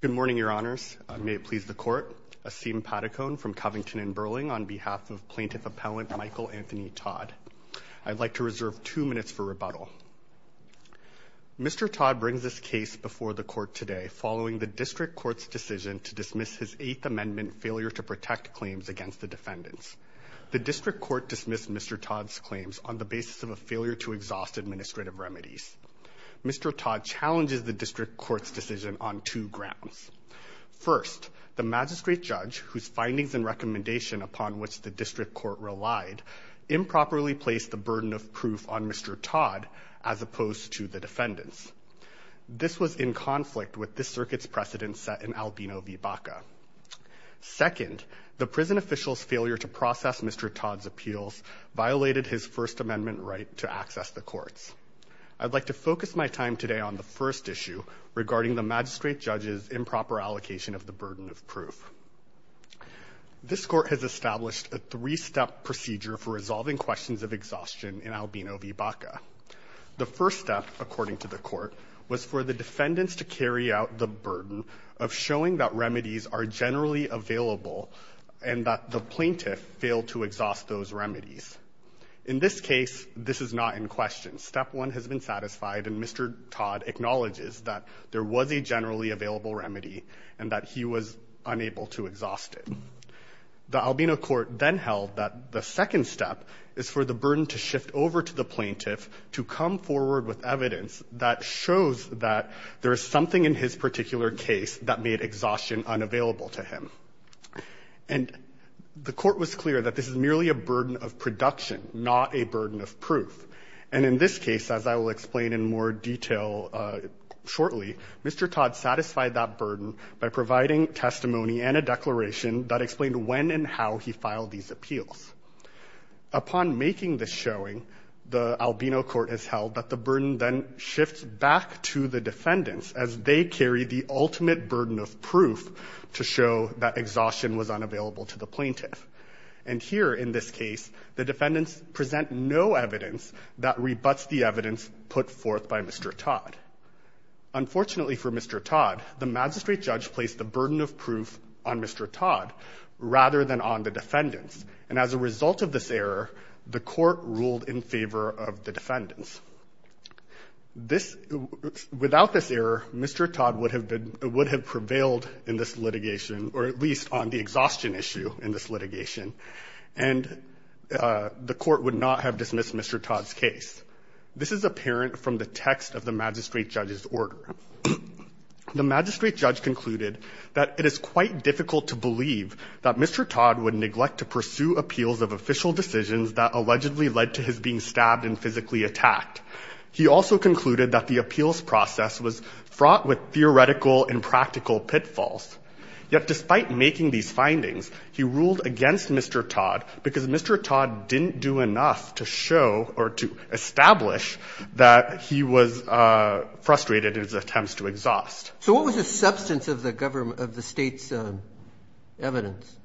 Good morning, Your Honors. May it please the Court. Asim Patakone from Covington and Burling on behalf of Plaintiff Appellant Michael Anthony Todd. I'd like to reserve two minutes for rebuttal. Mr. Todd brings this case before the Court today following the District Court's decision to dismiss his Eighth Amendment failure to protect claims against the defendants. The District Court dismissed Mr. Todd's claims on the basis of a failure to exhaust administrative remedies. Mr. Todd challenges the District Court's decision on two grounds. First, the Magistrate Judge, whose findings and recommendation upon which the District Court relied, improperly placed the burden of proof on Mr. Todd as opposed to the defendants. This was in conflict with this circuit's precedent set in Albino v. Baca. Second, the prison official's failure to process Mr. Todd's appeals violated his First Amendment right to access the courts. I'd like to focus my time today on the first issue regarding the Magistrate Judge's improper allocation of the burden of proof. This Court has established a three-step procedure for resolving questions of exhaustion in Albino v. Baca. The first step, according to the Court, was for the defendants to carry out the burden of showing that remedies are generally available and that the plaintiff failed to exhaust those remedies. In this case, this is not in question. Step one has been satisfied, and Mr. Todd acknowledges that there was a generally available remedy and that he was unable to exhaust it. The Albino Court then held that the second step is for the burden to shift over to the plaintiff to come forward with evidence that shows that there is something in his particular case that made exhaustion unavailable to him. And the Court was clear that this is merely a burden of production, not a burden of proof. And in this case, as I will explain in more detail shortly, Mr. Todd satisfied that burden by providing testimony and a declaration that explained when and how he filed these appeals. Upon making this showing, the Albino Court has held that the exhaustion was unavailable to the plaintiff. And here, in this case, the defendants present no evidence that rebuts the evidence put forth by Mr. Todd. Unfortunately for Mr. Todd, the magistrate judge placed the burden of proof on Mr. Todd rather than on the defendants. And as a result of this error, the Court ruled in favor of the defendants. Without this error, Mr. Todd would have prevailed in this litigation, or at least on the exhaustion issue in this litigation. And the Court would not have dismissed Mr. Todd's case. This is apparent from the text of the magistrate judge's order. The magistrate judge concluded that it is quite difficult to believe that Mr. Todd would neglect to pursue appeals of official decisions that allegedly led to his being stabbed and physically attacked. He also concluded that the appeals process was fraught with theoretical and practical pitfalls. Yet despite making these findings, he ruled against Mr. Todd because Mr. Todd didn't do enough to show, or to establish, that he was frustrated in his attempts to exhaust. So what was the substance of the state's evidence?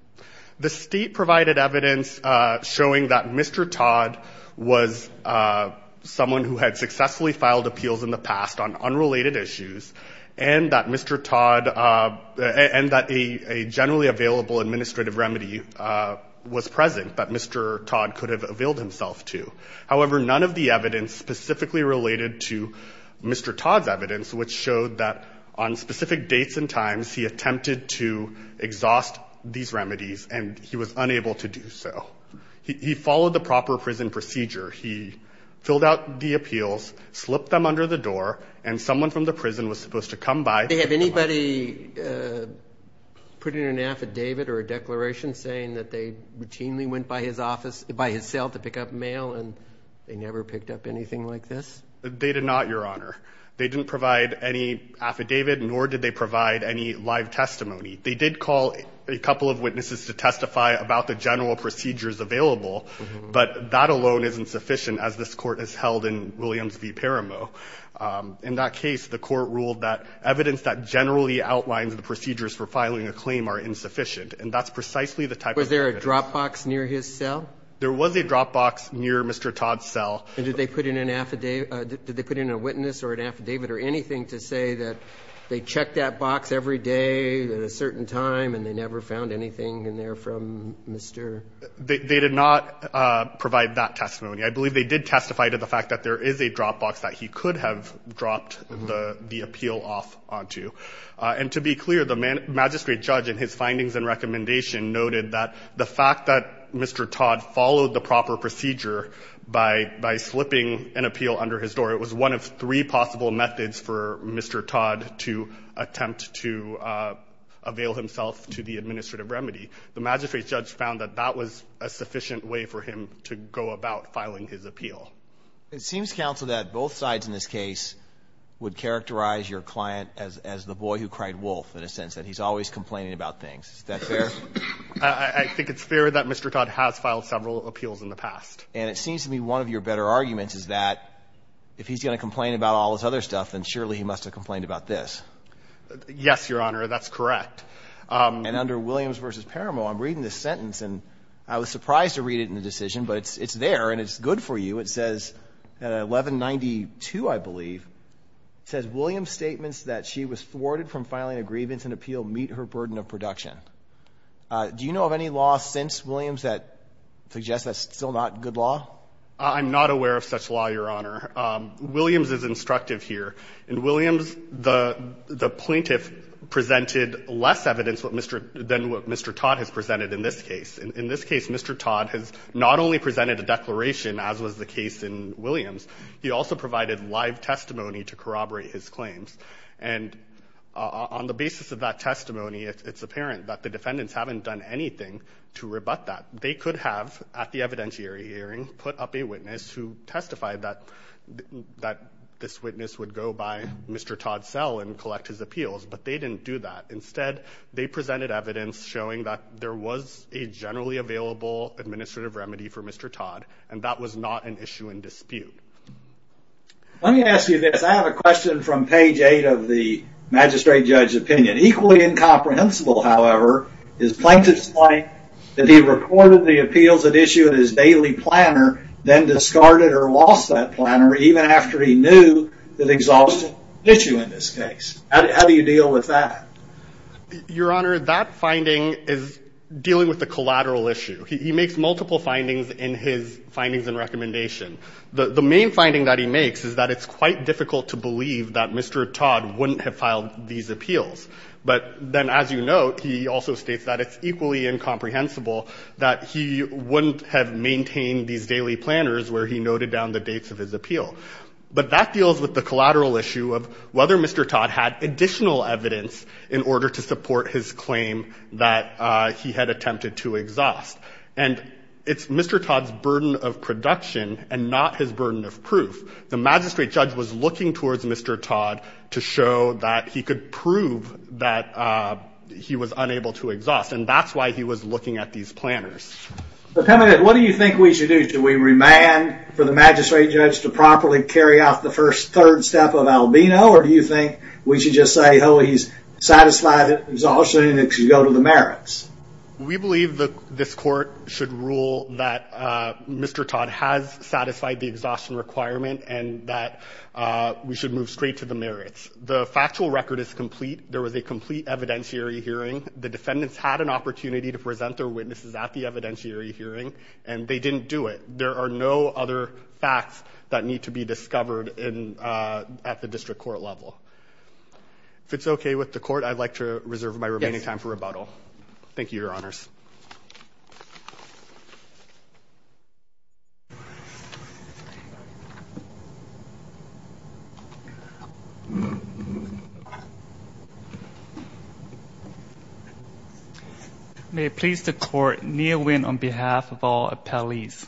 The state provided evidence showing that Mr. Todd was someone who had successfully filed appeals in the past on unrelated issues, and that Mr. Todd, and that a generally available administrative remedy was present that Mr. Todd could have availed himself to. However, none of the evidence specifically related to Mr. Todd's evidence, which showed that on specific dates and times, he attempted to exhaust these remedies and he was unable to do so. He followed the proper prison procedure. He filled out the appeals, slipped them under the door, and someone from the prison was supposed to come by. Did they have anybody put in an affidavit or a declaration saying that they routinely went by his office, by his cell to pick up mail, and they never picked up anything like this? They did not, Your Honor. They didn't provide any affidavit, nor did they provide any live testimony. They did call a couple of witnesses to testify about the general procedures available, but that alone isn't sufficient, as this Court has held in Williams v. Paramo. In that case, the Court ruled that evidence that generally outlines the procedures for filing a claim are insufficient, and that's precisely the type of evidence that was used. Was there a drop box near his cell? There was a drop box near Mr. Todd's cell. And did they put in an affidavit or anything to say that they checked that box every day at a certain time and they never found anything in there from Mr....? They did not provide that testimony. I believe they did testify to the fact that there is a drop box that he could have dropped the appeal off onto. And to be clear, the magistrate judge in his findings and recommendation noted that the fact that Mr. Todd followed the proper procedure by slipping an appeal under his door, it was one of three possible methods for Mr. Todd to attempt to avail himself to the administrative remedy. The magistrate judge found that that was a sufficient way for him to go about filing his appeal. It seems, counsel, that both sides in this case would characterize your client as the boy who cried wolf, in a sense, that he's always complaining about things. Is that fair? I think it's fair that Mr. Todd has filed several appeals in the past. And it seems to me one of your better arguments is that if he's going to complain about all this other stuff, then surely he must have complained about this. Yes, Your Honor, that's correct. And under Williams v. Paramo, I'm reading this sentence, and I was surprised to read it in the decision, but it's there, and it's good for you. It says, 1192, I believe, it says, Williams' statements that she was thwarted from filing a grievance and appeal meet her burden of production. Do you know of any law since Williams that suggests that's still not good law? I'm not aware of such law, Your Honor. Williams is instructive here. In Williams, the plaintiff presented less evidence than what Mr. Todd has presented in this case. In this case, Mr. Todd has not only presented a declaration, as was the case in Williams, he also provided live testimony to corroborate his claims. And on the basis of that testimony, it's apparent that the defendants haven't done anything to rebut that. They could have, at the evidentiary hearing, put up a Todd cell and collect his appeals, but they didn't do that. Instead, they presented evidence showing that there was a generally available administrative remedy for Mr. Todd, and that was not an issue in dispute. Let me ask you this. I have a question from page eight of the magistrate judge's opinion. Equally incomprehensible, however, is plaintiff's claim that he recorded the appeals at issue in his daily planner, then discarded or lost that issue in this case. How do you deal with that? Your Honor, that finding is dealing with a collateral issue. He makes multiple findings in his findings and recommendation. The main finding that he makes is that it's quite difficult to believe that Mr. Todd wouldn't have filed these appeals. But then, as you note, he also states that it's equally incomprehensible that he wouldn't have maintained these daily planners where he noted down the dates of his appeal. But that deals with the collateral issue of whether Mr. Todd had additional evidence in order to support his claim that he had attempted to exhaust. And it's Mr. Todd's burden of production and not his burden of proof. The magistrate judge was looking towards Mr. Todd to show that he could prove that he was unable to exhaust, and that's why he was looking at these planners. But tell me, what do you think we should do? Do we remand for the magistrate judge to properly carry out the first third step of albino? Or do you think we should just say, oh, he's satisfied exhaustion and it should go to the merits? We believe that this court should rule that Mr. Todd has satisfied the exhaustion requirement and that we should move straight to the merits. The factual record is complete. There was a complete evidentiary hearing. The defendants had an opportunity to present their witnesses at the evidentiary hearing, and they didn't do it. There are no other facts that need to be discovered at the district court level. If it's okay with the court, I'd like to reserve my remaining time for rebuttal. Thank you, Your Honors. May it please the court, Nia Nguyen on behalf of all appellees.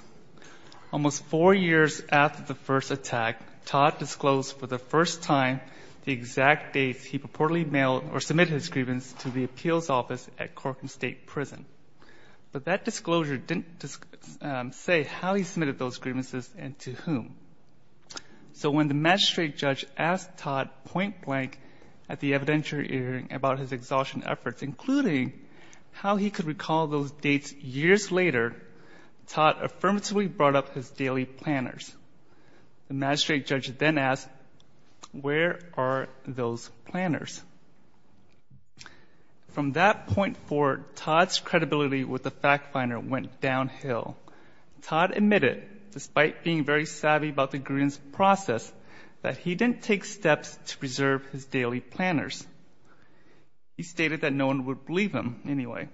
Almost four years after the first attack, Todd disclosed for the first time the exact date he purportedly mailed or submitted his grievance to the appeals office at the time of the attack. But that disclosure didn't say how he submitted those grievances and to whom. So when the magistrate judge asked Todd point blank at the evidentiary hearing about his exhaustion efforts, including how he could recall those dates years later, Todd affirmatively brought up his daily planners. The magistrate judge then asked, where are those planners? From that point forward, Todd's credibility with the fact finder went downhill. Todd admitted, despite being very savvy about the grievance process, that he didn't take steps to preserve his daily planners. He stated that no one would believe him anyway.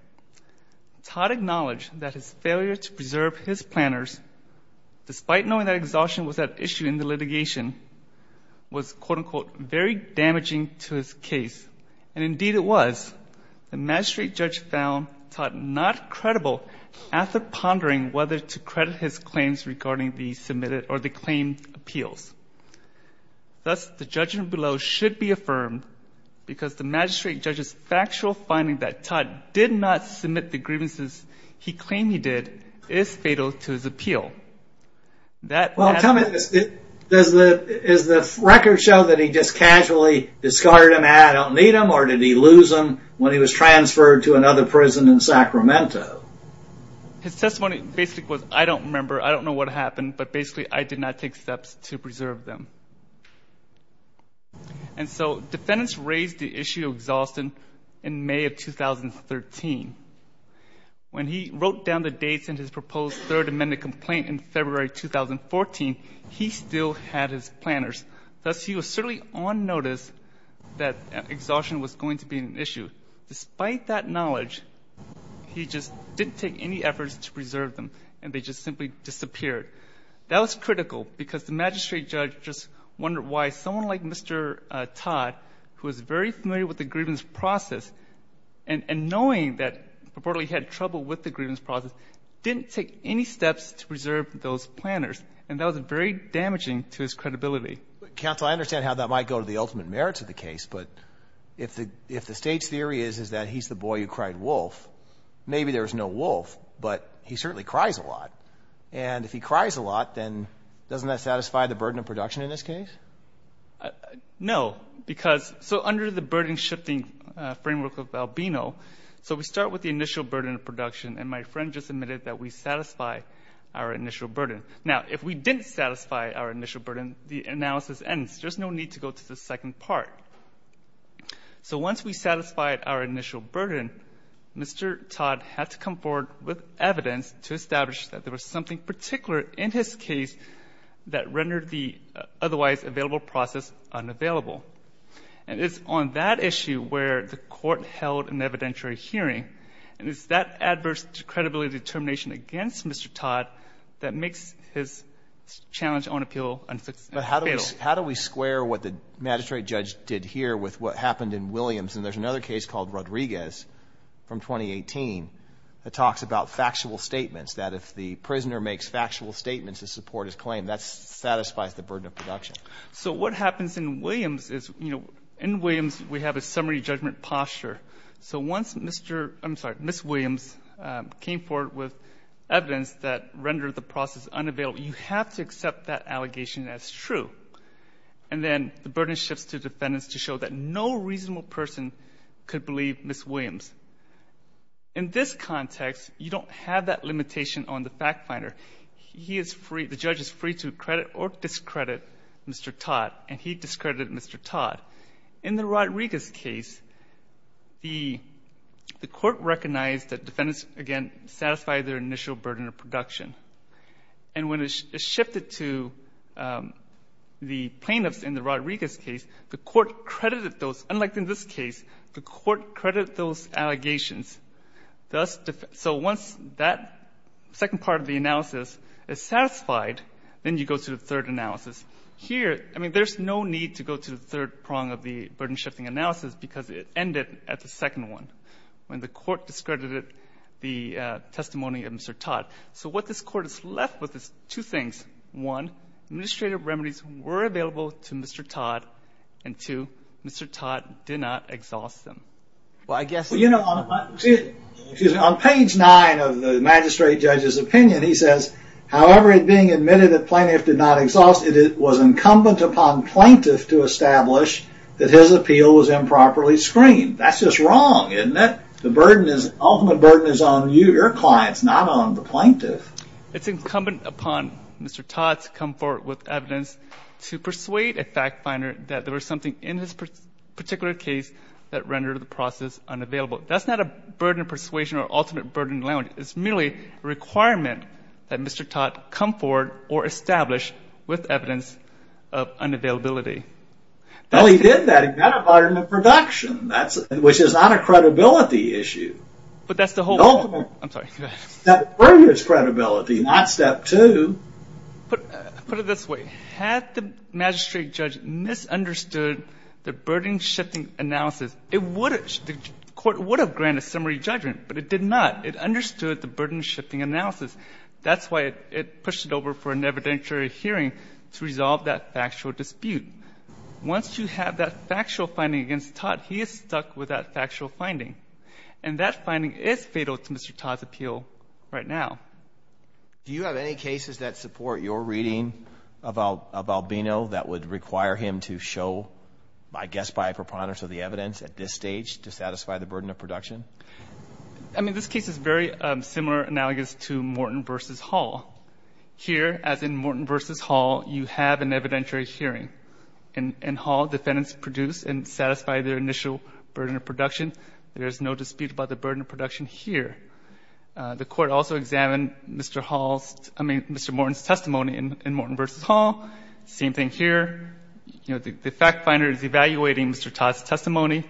Todd acknowledged that his failure to preserve his planners, despite knowing that exhaustion was at issue in the litigation, was quote-unquote, very damaging to his case. And indeed it was. The magistrate judge found Todd not credible after pondering whether to credit his claims regarding the submitted or the claimed appeals. Thus, the judgment below should be affirmed because the magistrate judge's factual finding that Todd did not submit the grievances he claimed he did is fatal to his appeal. That... Tell me, does the record show that he just casually discarded them and I don't need them, or did he lose them when he was transferred to another prison in Sacramento? His testimony basically was, I don't remember, I don't know what happened, but basically I did not take steps to preserve them. And so defendants raised the issue of exhaustion in May of 2013. When he wrote down the dates in his testimony, he still had his planners. Thus, he was certainly on notice that exhaustion was going to be an issue. Despite that knowledge, he just didn't take any efforts to preserve them and they just simply disappeared. That was critical because the magistrate judge just wondered why someone like Mr. Todd, who is very familiar with the grievance process and knowing that reportedly he had trouble with the grievance process, didn't take any steps to preserve those planners. And that was very damaging to his credibility. Counsel, I understand how that might go to the ultimate merits of the case, but if the state's theory is that he's the boy who cried wolf, maybe there's no wolf, but he certainly cries a lot. And if he cries a lot, then doesn't that satisfy the burden of production in this case? No, because, so under the burden-shifting framework of Albino, so we start with the initial burden of production and my friend just admitted that we satisfy our initial burden, the analysis ends. There's no need to go to the second part. So once we satisfied our initial burden, Mr. Todd had to come forward with evidence to establish that there was something particular in his case that rendered the otherwise available process unavailable. And it's on that issue where the court held an evidentiary hearing, and it's that adverse credibility determination against Mr. Todd that makes his challenge on appeal unfit. But how do we square what the magistrate judge did here with what happened in Williams? And there's another case called Rodriguez from 2018 that talks about factual statements, that if the prisoner makes factual statements to support his claim, that satisfies the burden of production. So what happens in Williams is, you know, in Williams we have a summary judgment posture. So once Mr., I'm sorry, Ms. Williams comes forward with evidence that rendered the process unavailable, you have to accept that allegation as true. And then the burden shifts to defendants to show that no reasonable person could believe Ms. Williams. In this context, you don't have that limitation on the fact finder. He is free, the judge is free to credit or discredit Mr. Todd, and he discredited Mr. Todd. In the Rodriguez case, the court recognized that defendants, again, satisfied their initial burden of production. And when it shifted to the plaintiffs in the Rodriguez case, the court credited those, unlike in this case, the court credited those allegations. Thus, so once that second part of the analysis is satisfied, then you go to the third analysis. Here, I mean, there's no need to go to the third prong of the burden shifting analysis, because it ended at the second one, when the court discredited the testimony of Mr. Todd. So what this court is left with is two things. One, administrative remedies were available to Mr. Todd. And two, Mr. Todd did not exhaust them. Well, I guess- Well, you know, on page nine of the magistrate judge's opinion, he says, however it being admitted that plaintiff did not exhaust it, it was incumbent upon plaintiff to establish that his appeal was improperly screened. That's just wrong, isn't it? The ultimate burden is on you, your clients, not on the plaintiff. It's incumbent upon Mr. Todd to come forward with evidence to persuade a fact finder that there was something in his particular case that rendered the process unavailable. That's not a burden persuasion or ultimate burden language. It's merely a requirement that Mr. Todd come forward or establish with evidence of unavailability. Well, he did that in that environment of production, which is not a credibility issue. But that's the whole point. I'm sorry. That burden is credibility, not step two. Put it this way. Had the magistrate judge misunderstood the burden shifting analysis, the court would have granted summary judgment, but it did not. It That's why it pushed it over for an evidentiary hearing to resolve that factual dispute. Once you have that factual finding against Todd, he is stuck with that factual finding. And that finding is fatal to Mr. Todd's appeal right now. Do you have any cases that support your reading of Albino that would require him to show, I guess, by a preponderance of the evidence at this stage to satisfy the burden of production? I mean, this case is very similar, analogous to Morton v. Hall. Here, as in Morton v. Hall, you have an evidentiary hearing. In Hall, defendants produce and satisfy their initial burden of production. There's no dispute about the burden of production here. The court also examined Mr. Hall's, I mean, Mr. Morton's testimony in Morton v. Hall. Same thing here. You know, the fact finder is evaluating Mr. Todd's testimony,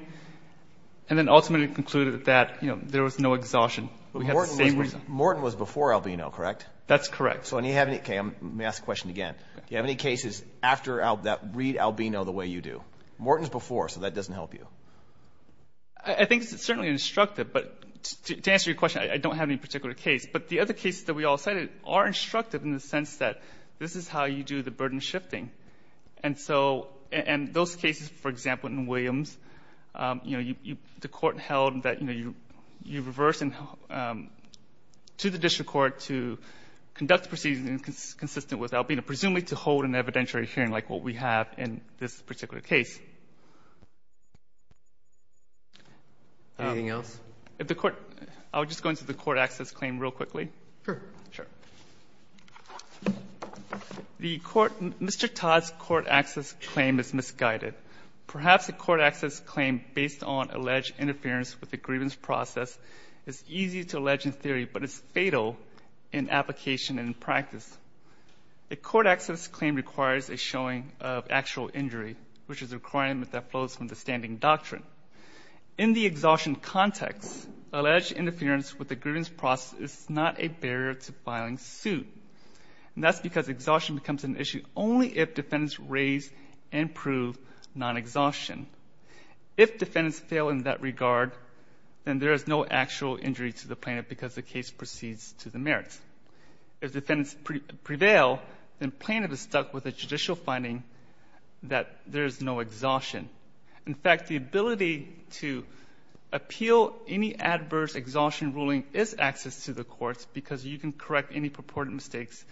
and then ultimately concluded that, you know, there was no exhaustion, but we have the same reason. Morton was before Albino, correct? That's correct. Okay, let me ask the question again. Do you have any cases after that read Albino the way you do? Morton's before, so that doesn't help you. I think it's certainly instructive, but to answer your question, I don't have any particular case. But the other cases that we all cited are instructive in the sense that this is how you do the burden shifting. And so, and those cases, for example, in Williams, you know, the court held that, you know, you reverse to the district court to conduct the proceedings consistent with Albino, presumably to hold an evidentiary hearing like what we have in this particular case. Anything else? If the court, I'll just go into the court access claim real quickly. Sure. The court, Mr. Todd's court access claim is misguided. Perhaps a court access claim based on alleged interference with the grievance process is easy to allege in theory, but it's fatal in application and in practice. A court access claim requires a showing of actual injury, which is a requirement that flows from the standing doctrine. In the exhaustion context, alleged interference with the plaintiff's filing suit. And that's because exhaustion becomes an issue only if defendants raise and prove non-exhaustion. If defendants fail in that regard, then there is no actual injury to the plaintiff because the case proceeds to the merits. If defendants prevail, then plaintiff is stuck with a judicial finding that there is no exhaustion. In fact, the ability to appeal any adverse exhaustion ruling is access to the courts because you can correct any purported mistakes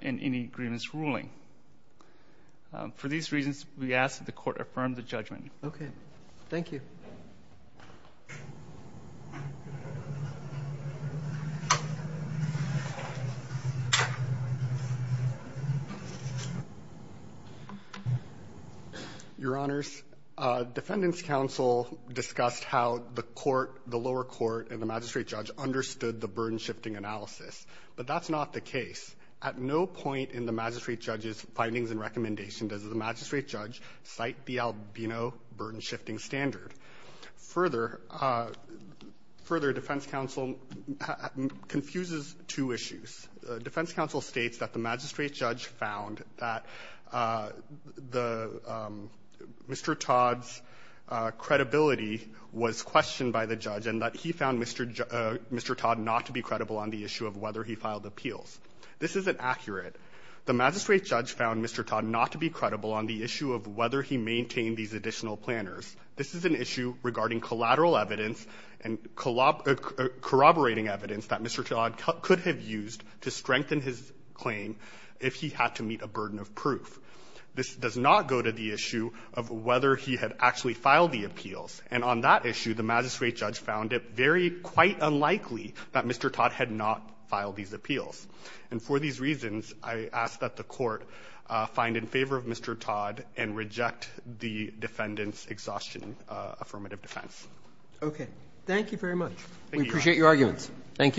in any grievance ruling. For these reasons, we ask that the court affirm the judgment. Okay. Thank you. Your Honors, defendant's counsel discussed how the lower court and the magistrate judge understood the burden shifting analysis, but that's not the case. At no point in the magistrate judge's findings and recommendation does the magistrate judge cite the albino burden shifting standard. Further, defense counsel confuses two issues. Defense counsel states that the magistrate judge found that Mr. Todd's credibility was questioned by the judge and that he found Mr. Todd not to be credible on the issue of whether he filed appeals. This isn't accurate. The magistrate judge found Mr. Todd not to be credible on the issue of whether he maintained these additional planners. This is an issue regarding collateral evidence and corroborating evidence that Mr. Todd could have used to strengthen his claim if he had to meet a burden of proof. This does not go to the issue of whether he had actually filed the appeals. And on that issue, the magistrate judge found it very quite unlikely that Mr. Todd had not filed these appeals. And for these reasons, I ask that the Court find in favor of Mr. Todd and reject the defendant's exhaustion affirmative defense. Roberts. Okay. Thank you very much. We appreciate your arguments. Thank you.